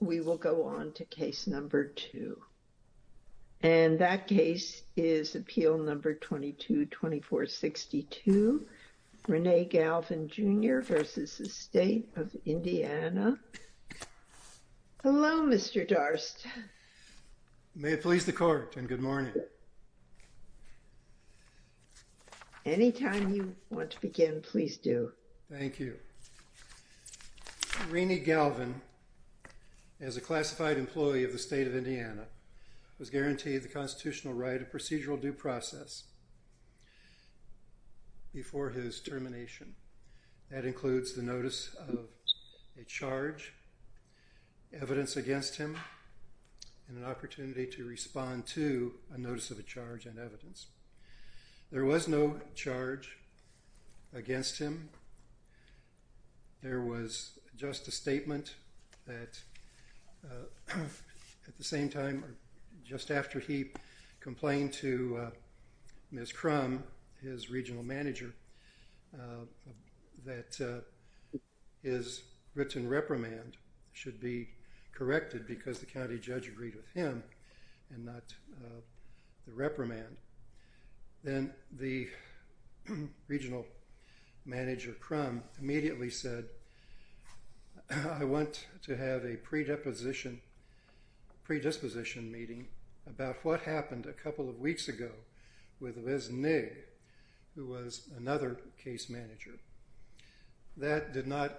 We will go on to case number two, and that case is appeal number 22-2462, Rene Galvan, Jr. v. State of Indiana. Hello, Mr. Darst. May it please the court, and good morning. Anytime you want to begin, please do. Thank you. Rene Galvan, as a classified employee of the State of Indiana, was guaranteed the constitutional right of procedural due process before his termination. That includes the notice of a charge, evidence against him, and an opportunity to respond to a notice of a charge and evidence. There was no charge against him. There was just a statement that, at the same time, just after he complained to Ms. Crum, his regional manager, that his written reprimand should be corrected because the county regional manager, Crum, immediately said, I want to have a predisposition meeting about what happened a couple of weeks ago with Liz Nigg, who was another case manager. That did not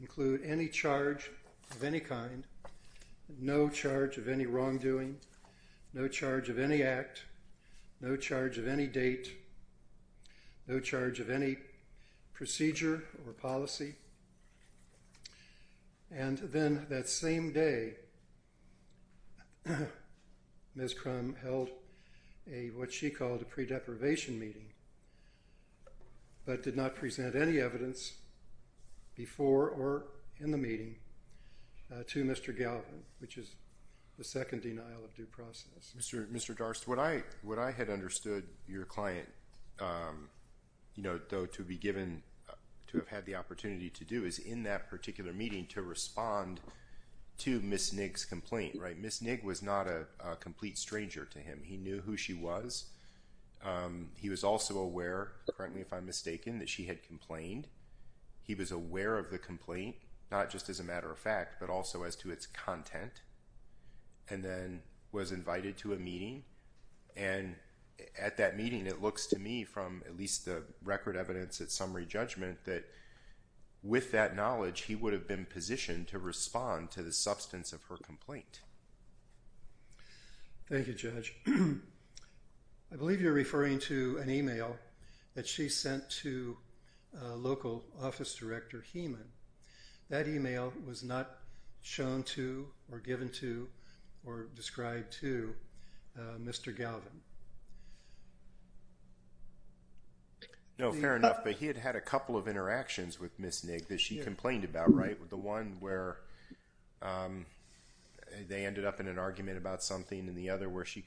include any charge of any kind, no charge of any wrongdoing, no charge of any act, no charge of any date, no charge of any procedure or policy. And then that same day, Ms. Crum held what she called a pre-deprivation meeting, but did not present any evidence before or in the meeting to Mr. Galvan, which is the second denial of due process. Mr. Darst, what I had understood your client, though to be given, to have had the opportunity to do, is in that particular meeting to respond to Ms. Nigg's complaint. Ms. Nigg was not a complete stranger to him. He knew who she was. He was also aware, currently if I'm mistaken, that she had complained. He was aware of the complaint, not just as a matter of fact, but also as to its content, and then was invited to a meeting. And at that meeting, it looks to me from at least the record evidence at summary judgment that with that knowledge, he would have been positioned to respond to the substance of her complaint. Thank you, Judge. I believe you're referring to an email that she sent to local office director Keeman. That email was not shown to, or given to, or described to Mr. Galvan. No, fair enough, but he had had a couple of interactions with Ms. Nigg that she complained about, right? The one where they ended up in an argument about something, and the other where she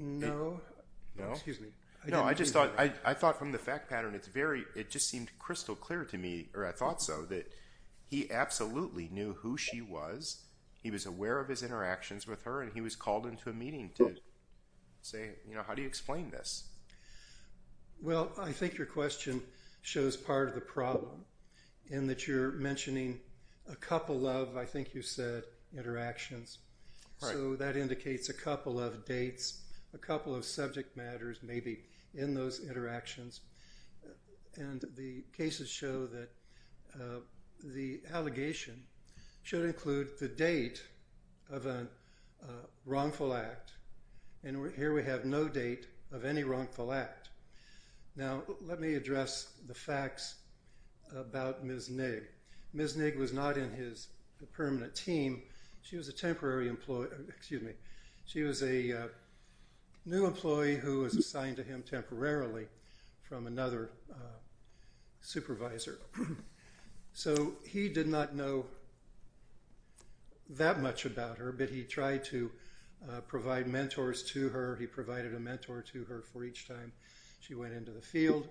No, I thought from the fact pattern, it just seemed crystal clear to me, or I thought so, that he absolutely knew who she was. He was aware of his interactions with her, and he was called into a meeting to say, you know, how do you explain this? Well, I think your question shows part of the problem, in that you're mentioning a couple of, I think you said, interactions, so that indicates a couple of dates, a couple of subject matters maybe in those interactions, and the cases show that the allegation should include the date of a wrongful act, and here we have no date of any wrongful act. Now, let me address the facts about Ms. Nigg. Ms. Nigg was not in his permanent team. She was a temporary employee, excuse me, she was a new employee who was assigned to him temporarily from another supervisor, so he did not know that much about her, but he tried to provide mentors to her. He provided a mentor to her for each time she went into the field.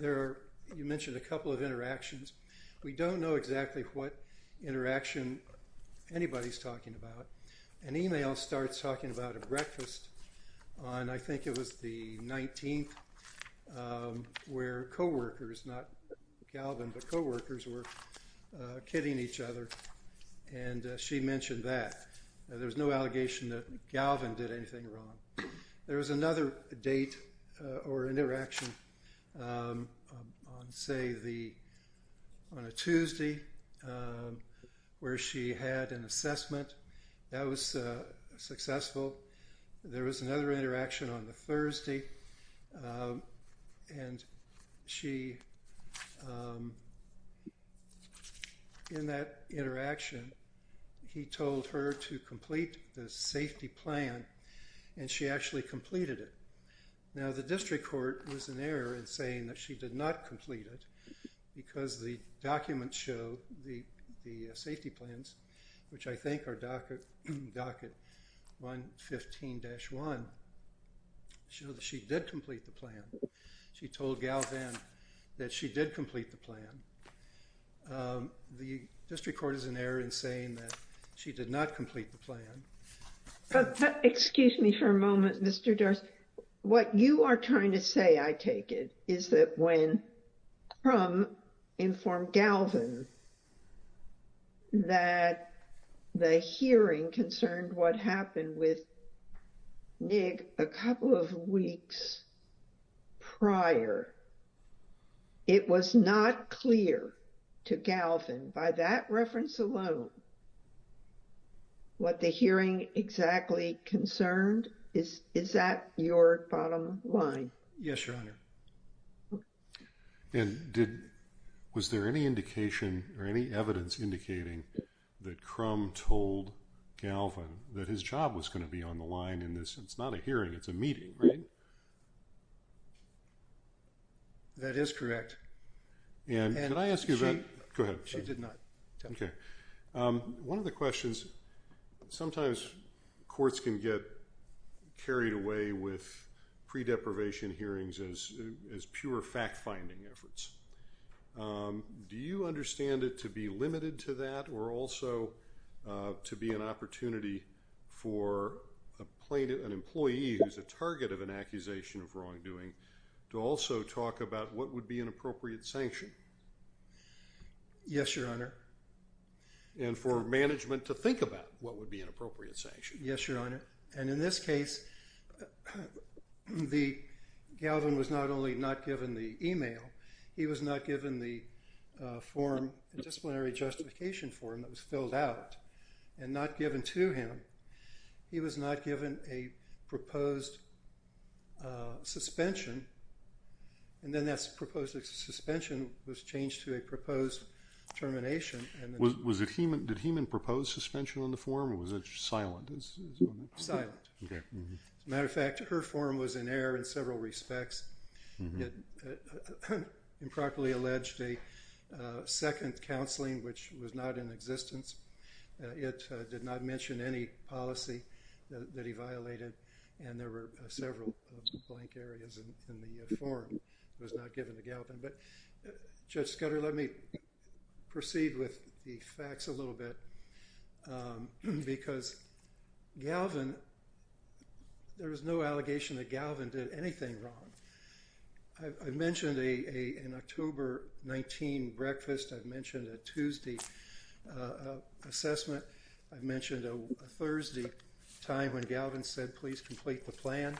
You mentioned a couple of interactions. We don't know exactly what interaction anybody's talking about. An email starts talking about a breakfast on, I think it was the 19th, where co-workers, not Galvin, but co-workers were hitting each other, and she mentioned that. Now, there's no allegation that Galvin did anything wrong. There was another date or interaction on, say, on a Tuesday, where she had an assessment. That was successful. There was another interaction on the Thursday, and she in that interaction, he told her to complete the safety plan, and she actually completed it. Now, the district court was in error in saying that she did not complete it, because the documents show the safety plans, which I think are docket 115-1, show that she did complete the plan. She told Galvin that she did complete the plan. The district court is in error in saying that she did not complete the plan. But excuse me for a moment, Mr. Durst. What you are trying to say, I take it, is that when Crum informed Galvin that the hearing concerned what happened with Nig a couple of weeks prior, it was not clear to Galvin by that reference alone what the hearing exactly concerned? Is that your bottom line? Yes, Your Honor. And was there any indication or any evidence indicating that Crum told Galvin that his job was going to be on the line in this? It's not a hearing. It's a meeting, right? That is correct. And could I ask you that? Go ahead. She did not. Okay. One of the questions, sometimes courts can get carried away with pre-deprivation hearings as pure fact-finding efforts. Do you understand it to be limited to that or also to be an opportunity for an employee who is a target of an accusation of wrongdoing to also talk about what would be an appropriate sanction? Yes, Your Honor. And for management to think about what would be an appropriate sanction, he was not given the form, the disciplinary justification form that was filled out and not given to him. He was not given a proposed suspension, and then that proposed suspension was changed to a proposed termination. Did Heumann propose suspension on the form or was it silent? Silent. Okay. As a matter of fact, her form was in error in several respects. It improperly alleged a second counseling, which was not in existence. It did not mention any policy that he violated, and there were several blank areas in the form. It was not given to Galvin. There was no allegation that Galvin did anything wrong. I've mentioned an October 19 breakfast. I've mentioned a Tuesday assessment. I've mentioned a Thursday time when Galvin said, please complete the plan.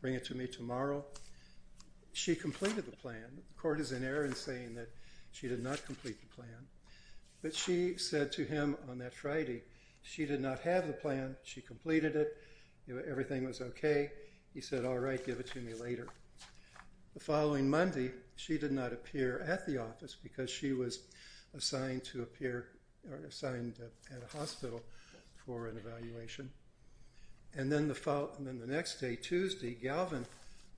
Bring it to me tomorrow. She completed the plan. The court is in error in saying that she did not complete the plan, but she said to him on that Friday, she did not have the plan. She completed it. Everything was okay. He said, all right, give it to me later. The following Monday, she did not appear at the office because she was assigned at a hospital for an evaluation, and then the next day, Tuesday, Galvin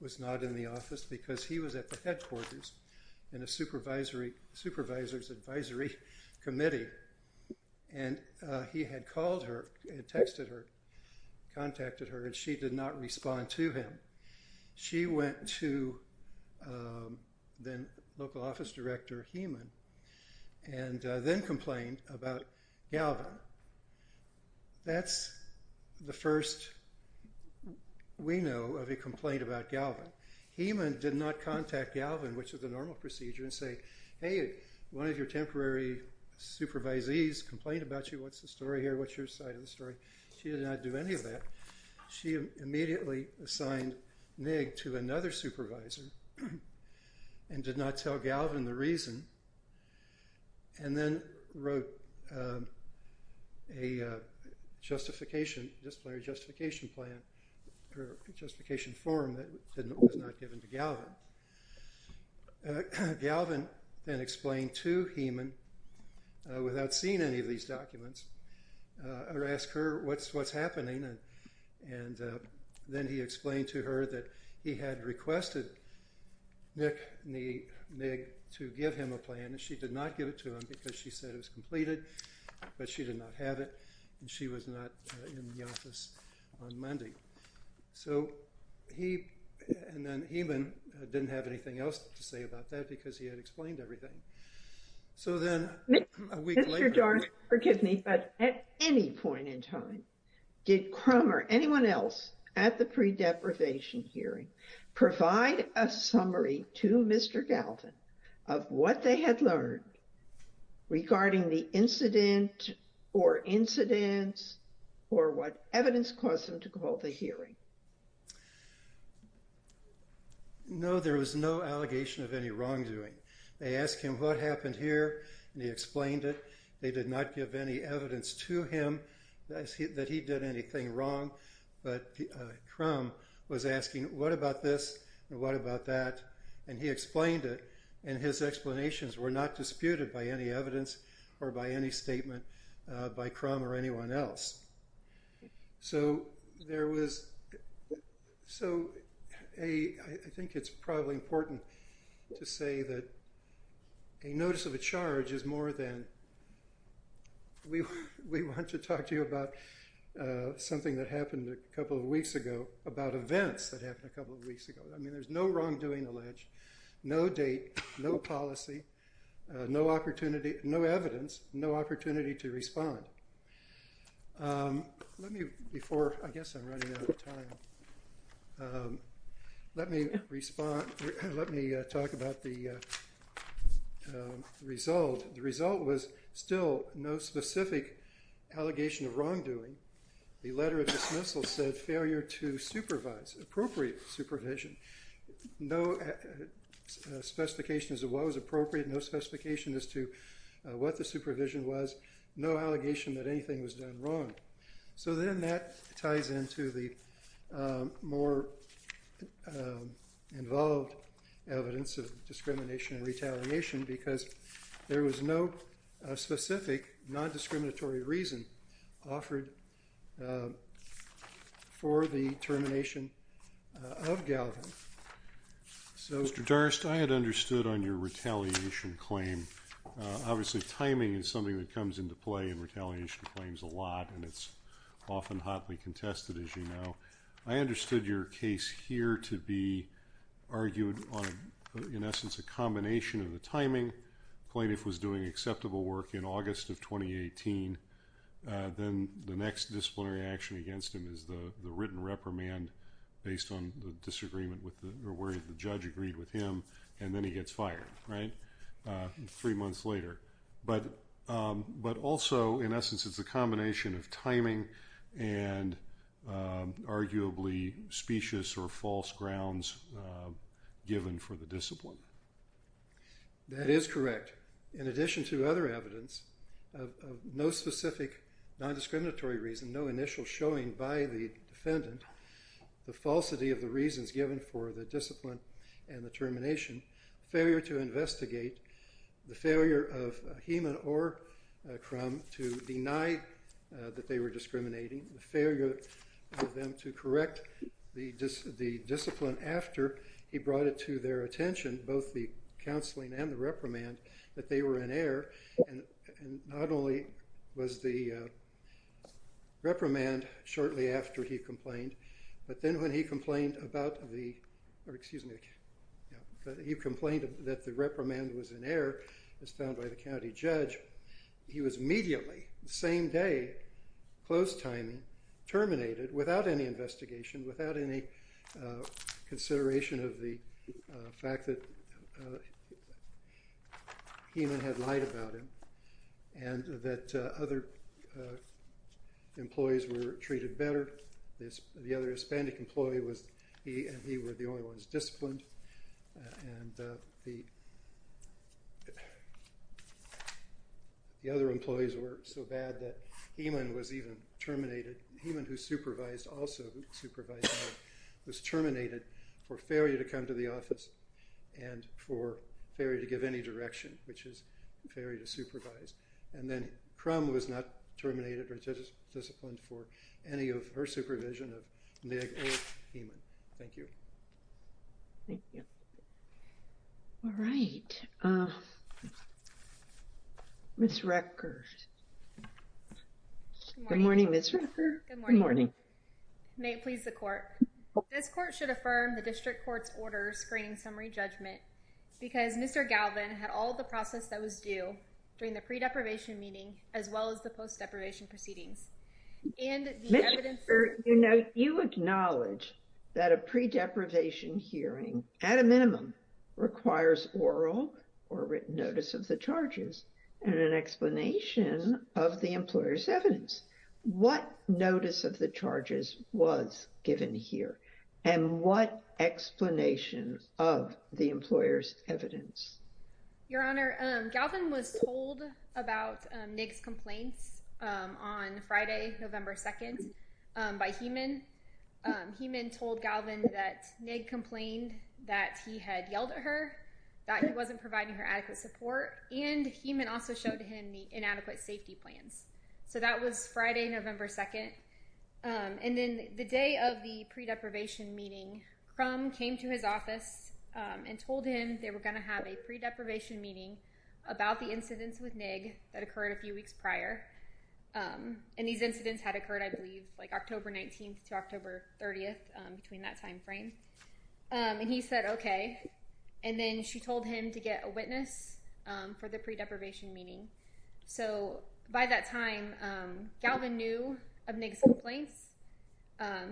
was not in the office because he was at her. He contacted her, and she did not respond to him. She went to the local office director, Heman, and then complained about Galvin. That's the first we know of a complaint about Galvin. Heman did not contact Galvin, which is a normal procedure, and say, hey, one of your temporary supervisees complained about you. What's the story here? What's your side of the story? She did not do any of that. She immediately assigned Nick to another supervisor and did not tell Galvin the reason, and then wrote a justification, disciplinary justification plan, or justification form that was not given to Galvin. Galvin then explained to Heman without seeing any of these documents, or asked her what's happening, and then he explained to her that he had requested Nick to give him a plan, and she did not give it to him because she said it was completed, but she did not have it, and she was not in the office on Monday. So, he and then Heman didn't have anything else to say about that because he had explained everything. So, then a week later... Mr. Jones, forgive me, but at any point in time, did Crummer, anyone else at the pre-deprivation hearing, provide a summary to Mr. Galvin of what they had learned regarding the incident, or incidents, or what evidence caused them to call the hearing? No, there was no allegation of any wrongdoing. They asked him what happened here, and he explained it. They did not give any evidence to him that he did anything wrong, but Crummer was asking, what about this, and what about that, and he explained it, and his explanations were not disputed by any evidence, or by any statement by Crummer or anyone else. So, there was So, I think it's probably important to say that a notice of a charge is more than we want to talk to you about something that happened a couple of weeks ago, about events that happened a couple of weeks ago. I mean, there's no wrongdoing alleged, no date, no policy, no opportunity, no evidence, no opportunity to respond. Let me, before, I guess I'm running out of time, let me respond, let me talk about the result. The result was still no specific allegation of wrongdoing. The letter of dismissal said failure to supervise, appropriate supervision, no specifications of what was appropriate, no specification as to what the supervision was, no allegation that anything was done wrong. So, then that ties into the more involved evidence of discrimination and retaliation, because there was no specific non-discriminatory reason offered for the termination of Galvin. So, Mr. Darst, I had understood on your retaliation claim, obviously timing is something that comes into play in retaliation claims a lot, and it's often hotly contested, as you know. I understood your case here to be argued on, in essence, a combination of the timing, plaintiff was doing acceptable work in August of 2018, then the next disciplinary action against him is the written reprimand, based on the disagreement where the judge agreed with him, and then he gets fired, right, three months later. But also, in essence, it's a combination of timing and arguably specious or false grounds given for the discipline. That is correct. In addition to other evidence, of no specific non-discriminatory reason, no initial showing by the defendant, the falsity of the reasons given for the discipline and the termination, failure to investigate, the failure of Heman or Crum to deny that they were discriminating, the failure of them to correct the discipline after he brought it to their attention, both the counseling and the reprimand, that they were in error, and not only was the reprimand shortly after he complained, but then when he complained about the, or excuse me, yeah, he complained that the reprimand was in error as found by the county judge, he was immediately, same day, closed timing, terminated without any investigation, without any consideration of the fact that Heman had lied about him and that other employees were treated better, the other Hispanic employee was, he and he were the only ones disciplined, and the other employees were so bad that Heman was even also supervised, was terminated for failure to come to the office and for failure to give any direction, which is failure to supervise, and then Crum was not terminated or disciplined for any of her supervision of Meg or Heman. Thank you. Thank you. All right. Ms. Record. Good morning, Ms. Record. Good morning. May it please the court, this court should affirm the district court's order screening summary judgment because Mr. Galvin had all the process that was due during the pre-deprivation meeting, as well as the post-deprivation proceedings, and the evidence... Mr. Unite, you acknowledge that a pre-deprivation hearing, at a minimum, requires oral or written notice of the charges and an explanation of the employer's evidence. What notice of the charges was given here and what explanation of the employer's evidence? Your Honor, Galvin was told about Nick's complaints on Friday, November 2nd by Heman. Heman told Galvin that Nick complained that he had yelled at her, that he wasn't providing her adequate support, and Heman also showed him the inadequate safety plans. So that was Friday, November 2nd. And then the day of the pre-deprivation meeting, Crum came to his office and told him they were going to have a pre-deprivation meeting about the incidents with Nick that occurred a few weeks prior. And these incidents had occurred, I believe, like October 19th to October 30th, between that time frame. And he said, okay. And then she told him to get a witness for the pre-deprivation meeting. So by that time, Galvin knew of Nick's complaints.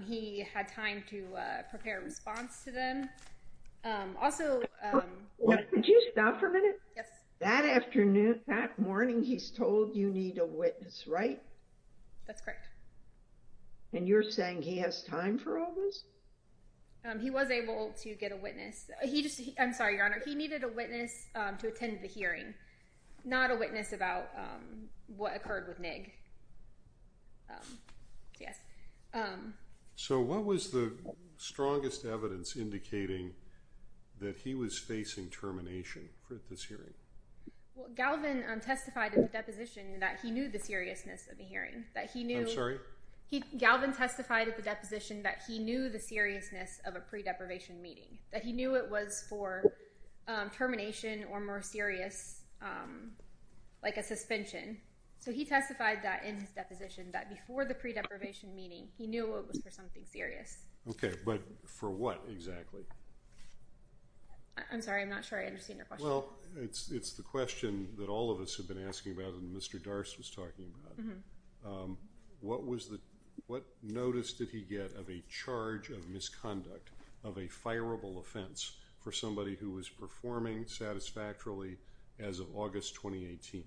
He had time to prepare a response to them. Also... Could you stop for a minute? Yes. That afternoon, that morning, he's told you need a witness, right? That's correct. And you're saying he has time for all this? He was able to get a witness. He just, I'm sorry, Your Honor, he needed a witness to attend the hearing, not a witness about what occurred with Nick. Yes. So what was the strongest evidence indicating that he was facing termination for this hearing? Well, Galvin testified in the deposition that he knew the seriousness of the hearing, that he knew... I'm sorry? Galvin testified at the deposition that he knew the seriousness of a pre-deprivation meeting, that he knew it was for termination or more serious, like a suspension. So he testified that in his deposition, that before the pre-deprivation meeting, he knew it was for something serious. Okay. But for what exactly? I'm sorry. I'm not sure I understand your question. Well, it's the question that all of us have been asking about and Mr. Darst was talking about. What was the, what notice did he get of a charge of misconduct, of a fireable offense for somebody who was performing satisfactorily as of August 2018?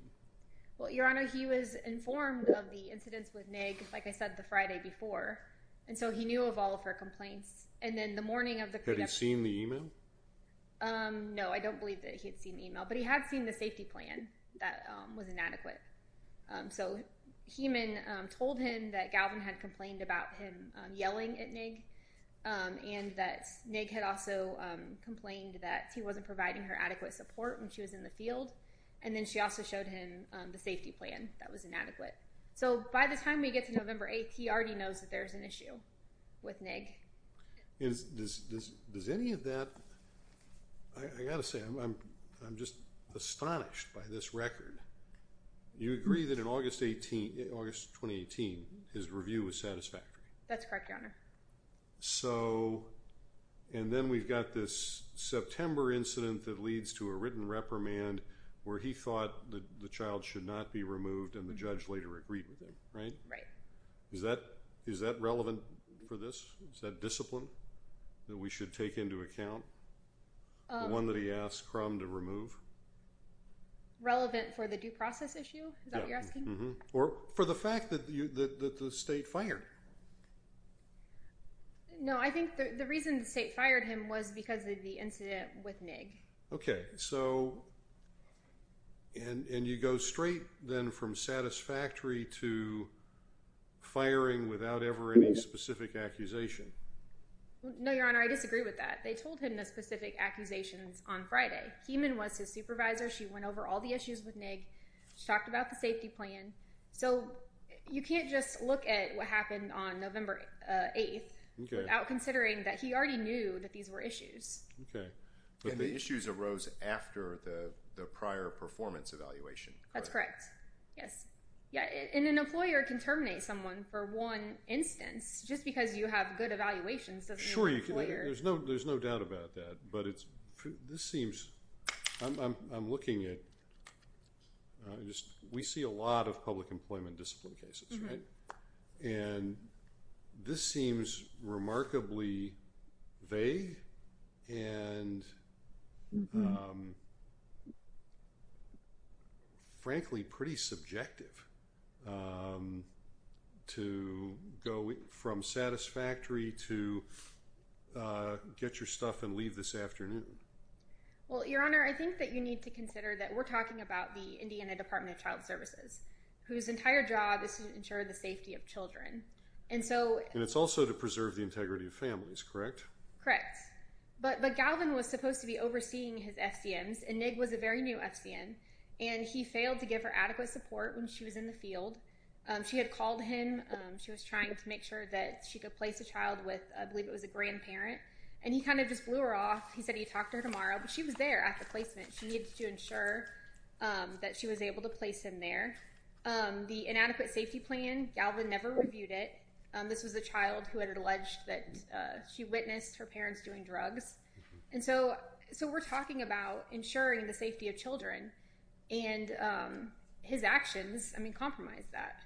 Well, Your Honor, he was informed of the incidents with Nick, like I said, the Friday before. And so he knew of all of her complaints. And then the morning of the... Had he seen the email? No, I don't believe that he had seen the email, but he had seen the safety plan that was inadequate. So Hemann told him that Galvin had complained about him yelling at Nick and that Nick had also complained that he wasn't providing her adequate support when she was in the field. And then she also showed him the safety plan that was inadequate. So by the time we get to November 8th, he already knows that there's an issue with Nick. Does any of that... I got to say, I'm just astonished by this record. You agree that in August 2018, his review was satisfactory? That's correct, Your Honor. And then we've got this September incident that leads to a written reprimand where he thought the child should not be removed and the judge later agreed with him, right? Is that relevant for this? Is that discipline that we should take into account? The one that he asked Crum to remove? Relevant for the due process issue? Is that what you're asking? Or for the fact that the state fired him? No, I think the reason the state fired him was because of the incident with Nick. Okay, so and you go straight then from satisfactory to firing without ever any specific accusation? No, Your Honor, I disagree with that. They told him the specific accusations on Friday. Hemann was his supervisor. She went over all the issues with Nick. She talked about the safety plan. So you can't just look at what happened on November 8th without considering that he already knew that these were issues. Okay, but the issues arose after the prior performance evaluation. That's correct, yes. Yeah, and an employer can terminate someone for one instance just because you have good evaluations. Sure, there's no doubt about that. But it's, this seems, I'm looking at, we see a lot of public employment discipline cases, right? And this seems remarkably vague. And frankly, pretty subjective to go from satisfactory to get your stuff and leave this afternoon. Well, Your Honor, I think that you need to consider that we're talking about the Indiana Department of Child Services, whose entire job is to ensure the safety of children. And so... And it's also to preserve the integrity of families, correct? Correct. But Galvin was supposed to be overseeing his FCMs, and Nick was a very new FCM. And he failed to give her adequate support when she was in the field. She had called him. She was trying to make sure that she could place a child with, I believe it was a grandparent. And he kind of just blew her off. He said he'd talk to her tomorrow, but she was there at the placement. She needed to ensure that she was able to place him there. The inadequate safety plan, Galvin never reviewed it. This was a child who had alleged that she witnessed her parents doing drugs. And so we're talking about ensuring the safety of children. And his actions, I mean, compromise that.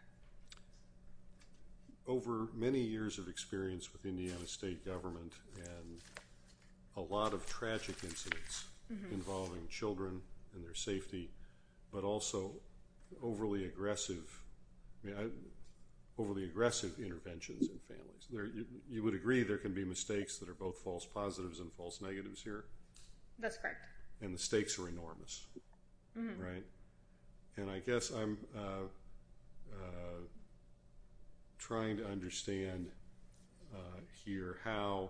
Over many years of experience with Indiana State Government and a lot of tragic incidents involving children and their safety, but also overly aggressive, I mean, overly aggressive interventions in families. You would agree there can be mistakes that are both false positives and false negatives here? That's correct. And the stakes are enormous, right? And I guess I'm trying to understand here how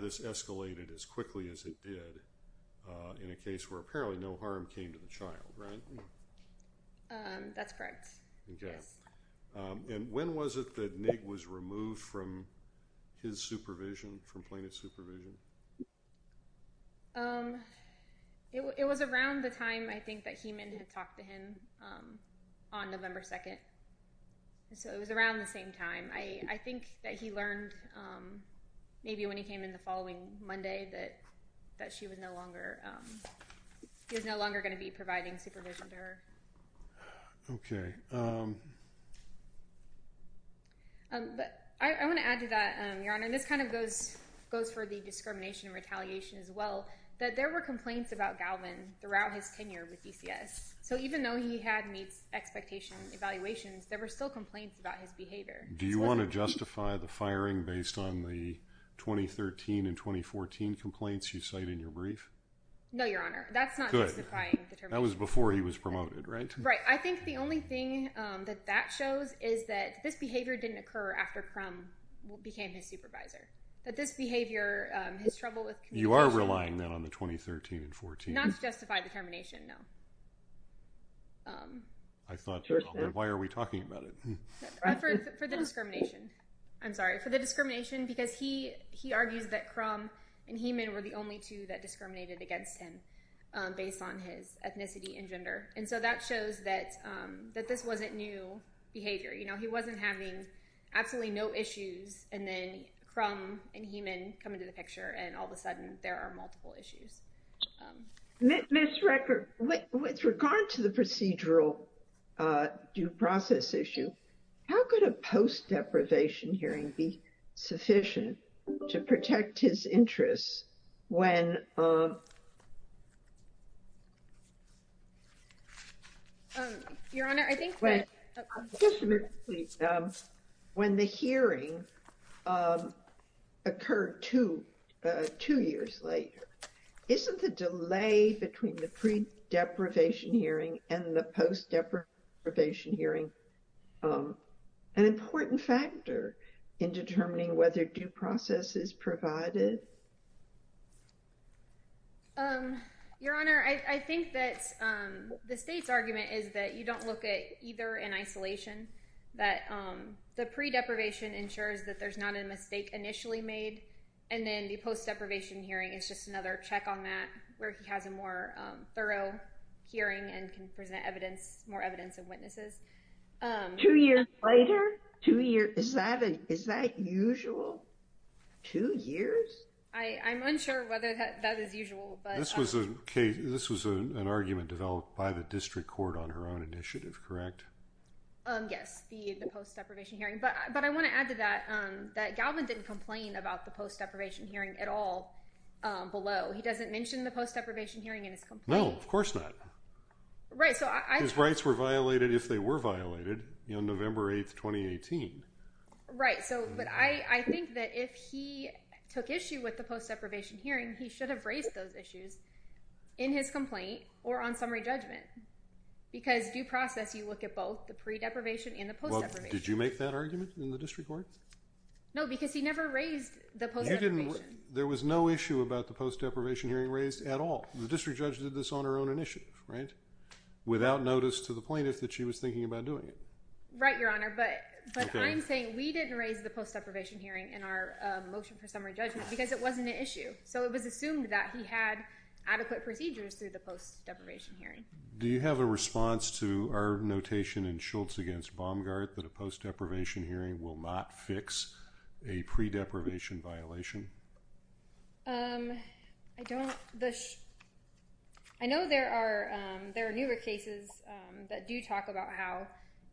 this escalated as quickly as it did in a case where apparently no harm came to the child, right? Um, that's correct. Okay. And when was it that Nick was removed from his supervision, from plaintiff's supervision? Um, it was around the time I think that Heiman had talked to him on November 2nd. So it was around the same time. I think that he learned maybe when he came in the following Monday that she was no longer, um, he was no longer going to be providing supervision to her. Okay. Um. But I want to add to that, Your Honor, and this kind of goes, goes for the discrimination and retaliation as well, that there were complaints about Galvin throughout his tenure with DCS. So even though he had meets expectation evaluations, there were still complaints about his behavior. Do you want to justify the firing based on the 2013 and 2014 complaints you cite in your brief? No, Your Honor. That's not justifying the termination. That was before he was promoted, right? Right. I think the only thing that that shows is that this behavior didn't occur after Crum became his supervisor. That this behavior, um, his trouble with communication... You are relying then on the 2013 and 14. Not to justify the termination, no. Um. I thought, why are we talking about it? For the discrimination. I'm sorry, for the discrimination because he, he argues that Crum and Heeman were the only two that discriminated against him, based on his ethnicity and gender. And so that shows that, um, that this wasn't new behavior. You know, he wasn't having absolutely no issues, and then Crum and Heeman come into the picture, and all of a sudden there are multiple issues. Ms. Rickert, with regard to the procedural due process issue, how could a post-deprivation hearing be sufficient? To protect his interests when, um... Um, Your Honor, I think that... Wait. When the hearing, um, occurred two, uh, two years later, isn't the delay between the pre-deprivation hearing and the post-deprivation hearing, um, an important factor in determining whether due process is provided? Um, Your Honor, I, I think that, um, the state's argument is that you don't look at either in isolation, that, um, the pre-deprivation ensures that there's not a mistake initially made, and then the post-deprivation hearing is just another check on that, where he has a more, um, thorough hearing and can present evidence, more evidence and witnesses. Um, two years later? Two years, is that, is that usual? Two years? I, I'm unsure whether that, that is usual, but, um... This was a case, this was an argument developed by the district court on her own initiative, correct? Um, yes, the, the post-deprivation hearing. But, but I want to add to that, um, that Galvin didn't complain about the post-deprivation hearing at all, um, below. He doesn't mention the post-deprivation hearing in his complaint. No, of course not. Right, so I... If they were violated, you know, November 8th, 2018. Right, so, but I, I think that if he took issue with the post-deprivation hearing, he should have raised those issues in his complaint or on summary judgment. Because due process, you look at both the pre-deprivation and the post-deprivation. Did you make that argument in the district court? No, because he never raised the post-deprivation. You didn't, there was no issue about the post-deprivation hearing raised at all. The district judge did this on her own initiative, right? Without notice to the plaintiff that she was thinking about doing it. Right, Your Honor, but, but I'm saying we didn't raise the post-deprivation hearing in our motion for summary judgment because it wasn't an issue. So, it was assumed that he had adequate procedures through the post-deprivation hearing. Do you have a response to our notation in Schultz against Baumgart that a post-deprivation hearing will not fix a pre-deprivation violation? Um, I don't, the, I know there are, um, there are newer cases, um, that do talk about how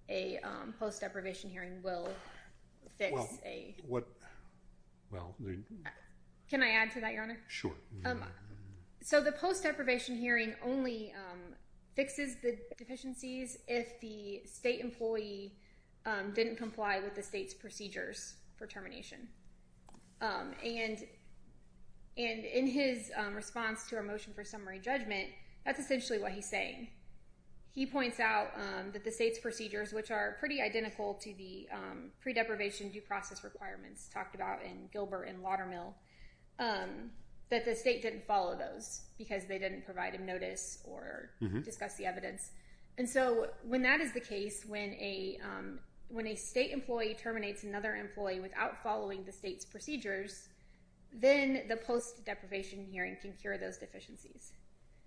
a, um, post-deprivation hearing will fix a... Well, what, well... Can I add to that, Your Honor? Sure. So, the post-deprivation hearing only, um, fixes the deficiencies if the state employee, um, didn't comply with the state's procedures for termination. Um, and, and in his, um, response to our motion for summary judgment, that's essentially what he's saying. He points out, um, that the state's procedures, which are pretty identical to the, um, pre-deprivation due process requirements talked about in Gilbert and Watermill, um, that the state didn't follow those because they didn't provide him notice or discuss the evidence. And so, when that is the case, when a, um, when a state employee terminates another employee without following the state's procedures, then the post-deprivation hearing can cure those deficiencies.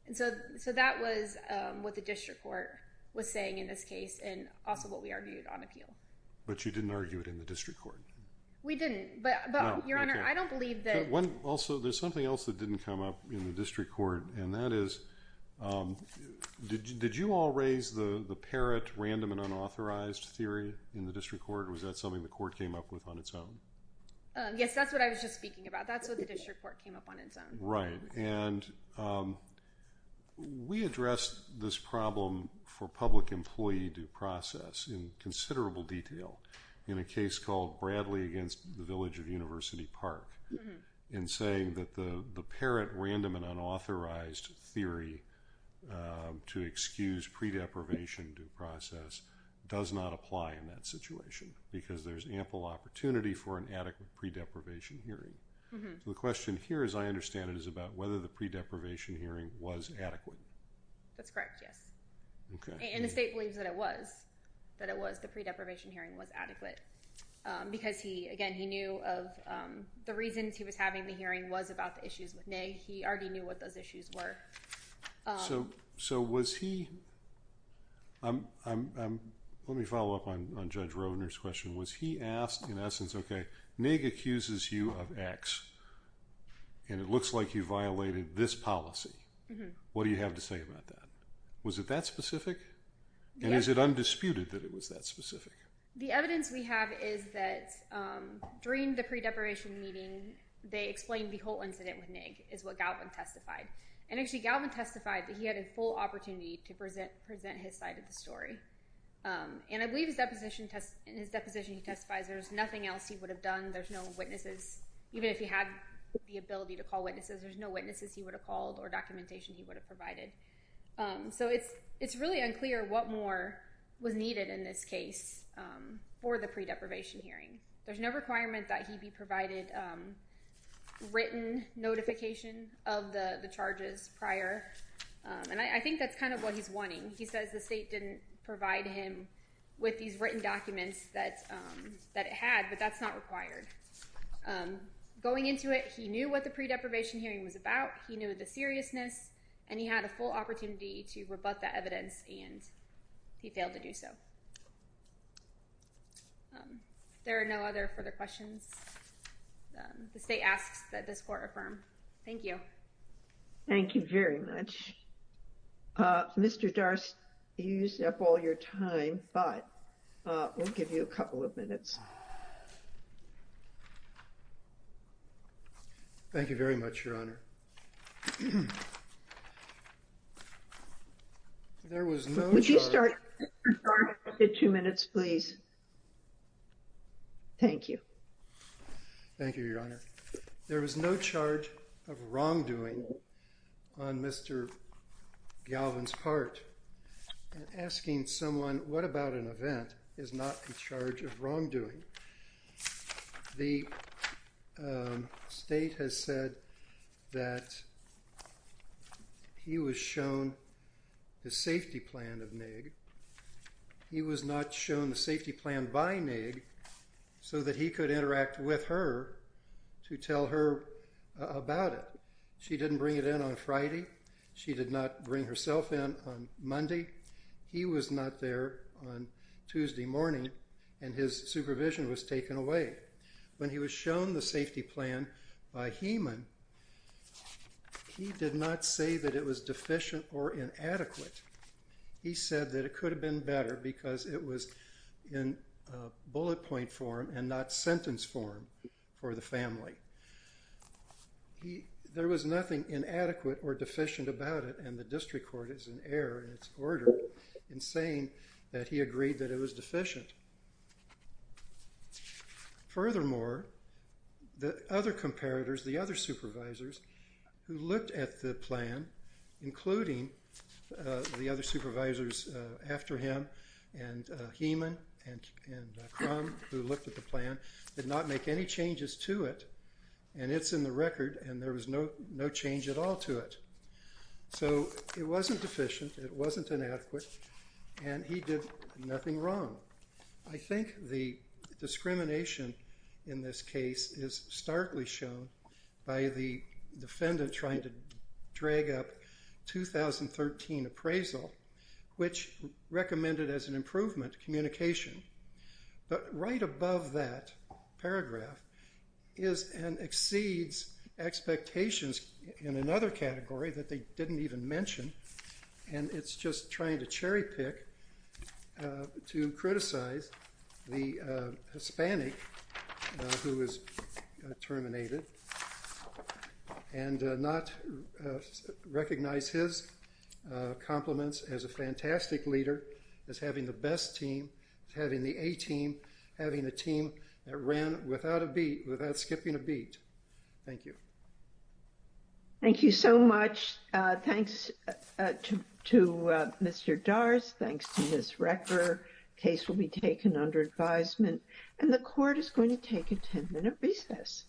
And so, so that was, um, what the district court was saying in this case and also what we argued on appeal. But you didn't argue it in the district court? We didn't, but, but, Your Honor, I don't believe that... One, also, there's something else that didn't come up in the district court, and that is, um, did, did you all raise the, the parrot random and unauthorized theory in the district court, or was that something the court came up with on its own? Yes, that's what I was just speaking about. That's what the district court came up on its own. Right. And, um, we addressed this problem for public employee due process in considerable detail in a case called Bradley against the Village of University Park in saying that the, the parrot random and unauthorized theory, um, to excuse pre-deprivation due process does not apply in that situation because there's ample opportunity for an adequate pre-deprivation hearing. Mm-hmm. So the question here, as I understand it, is about whether the pre-deprivation hearing was adequate. That's correct, yes. Okay. And the state believes that it was, that it was, the pre-deprivation hearing was adequate, because he, again, he knew of, um, the reasons he was having the hearing was about the issues with Nigg. He already knew what those issues were. So, so was he, I'm, I'm, I'm, let me follow up on, on Judge Roedner's question. Was he asked, in essence, okay, Nigg accuses you of X, and it looks like you violated this policy. Mm-hmm. What do you have to say about that? Was it that specific? And is it undisputed that it was that specific? The evidence we have is that, um, during the pre-deprivation meeting, they explained the whole incident with Nigg, is what Galvin testified. And actually, Galvin testified that he had a full opportunity to present, present his side of the story. And I believe his deposition test, in his deposition he testifies there was nothing else he would have done. There's no witnesses. Even if he had the ability to call witnesses, there's no witnesses he would have called, or documentation he would have provided. So it's, it's really unclear what more was needed in this case. For the pre-deprivation hearing. There's no requirement that he be provided written notification of the charges prior. And I think that's kind of what he's wanting. He says the state didn't provide him with these written documents that, that it had, but that's not required. Going into it, he knew what the pre-deprivation hearing was about. He knew the seriousness. And he had a full opportunity to rebut that evidence. And he failed to do so. Um, if there are no other further questions, the state asks that this court affirm. Thank you. Thank you very much. Uh, Mr. Darst, you used up all your time, but, uh, we'll give you a couple of minutes. Thank you very much, Your Honor. There was no charge. You start the two minutes, please. Thank you. Thank you, Your Honor. There was no charge of wrongdoing on Mr. Galvin's part. Asking someone, what about an event is not in charge of wrongdoing? The, um, state has said that he was shown the safety plan of Nigg. He was not shown the safety plan by Nigg, so that he could interact with her to tell her about it. She didn't bring it in on Friday. She did not bring herself in on Monday. He was not there on Tuesday morning. And his supervision was taken away. When he was shown the safety plan by Heeman, he did not say that it was deficient or inadequate. He said that it could have been better because it was in bullet point form and not sentence form for the family. There was nothing inadequate or deficient about it, and the district court is in error in its order in saying that he agreed that it was deficient. Furthermore, the other comparators, the other supervisors who looked at the plan, including the other supervisors after him and Heeman and Crum who looked at the plan, did not make any changes to it. And it's in the record, and there was no change at all to it. So it wasn't deficient, it wasn't inadequate, and he did nothing wrong. I think the discrimination in this case is starkly shown by the defendant trying to drag up 2013 appraisal, which recommended as an improvement communication. But right above that paragraph is an exceeds expectations in another category that they didn't even mention, and it's just trying to cherry pick to criticize the Hispanic who was terminated and not recognize his compliments as a fantastic leader, as having the best team, as having the A team, having a team that ran without skipping a beat. Thank you. Thank you so much. Thanks to Mr. Darz. Thanks to Ms. Recker. Case will be taken under advisement. And the court is going to take a 10-minute recess.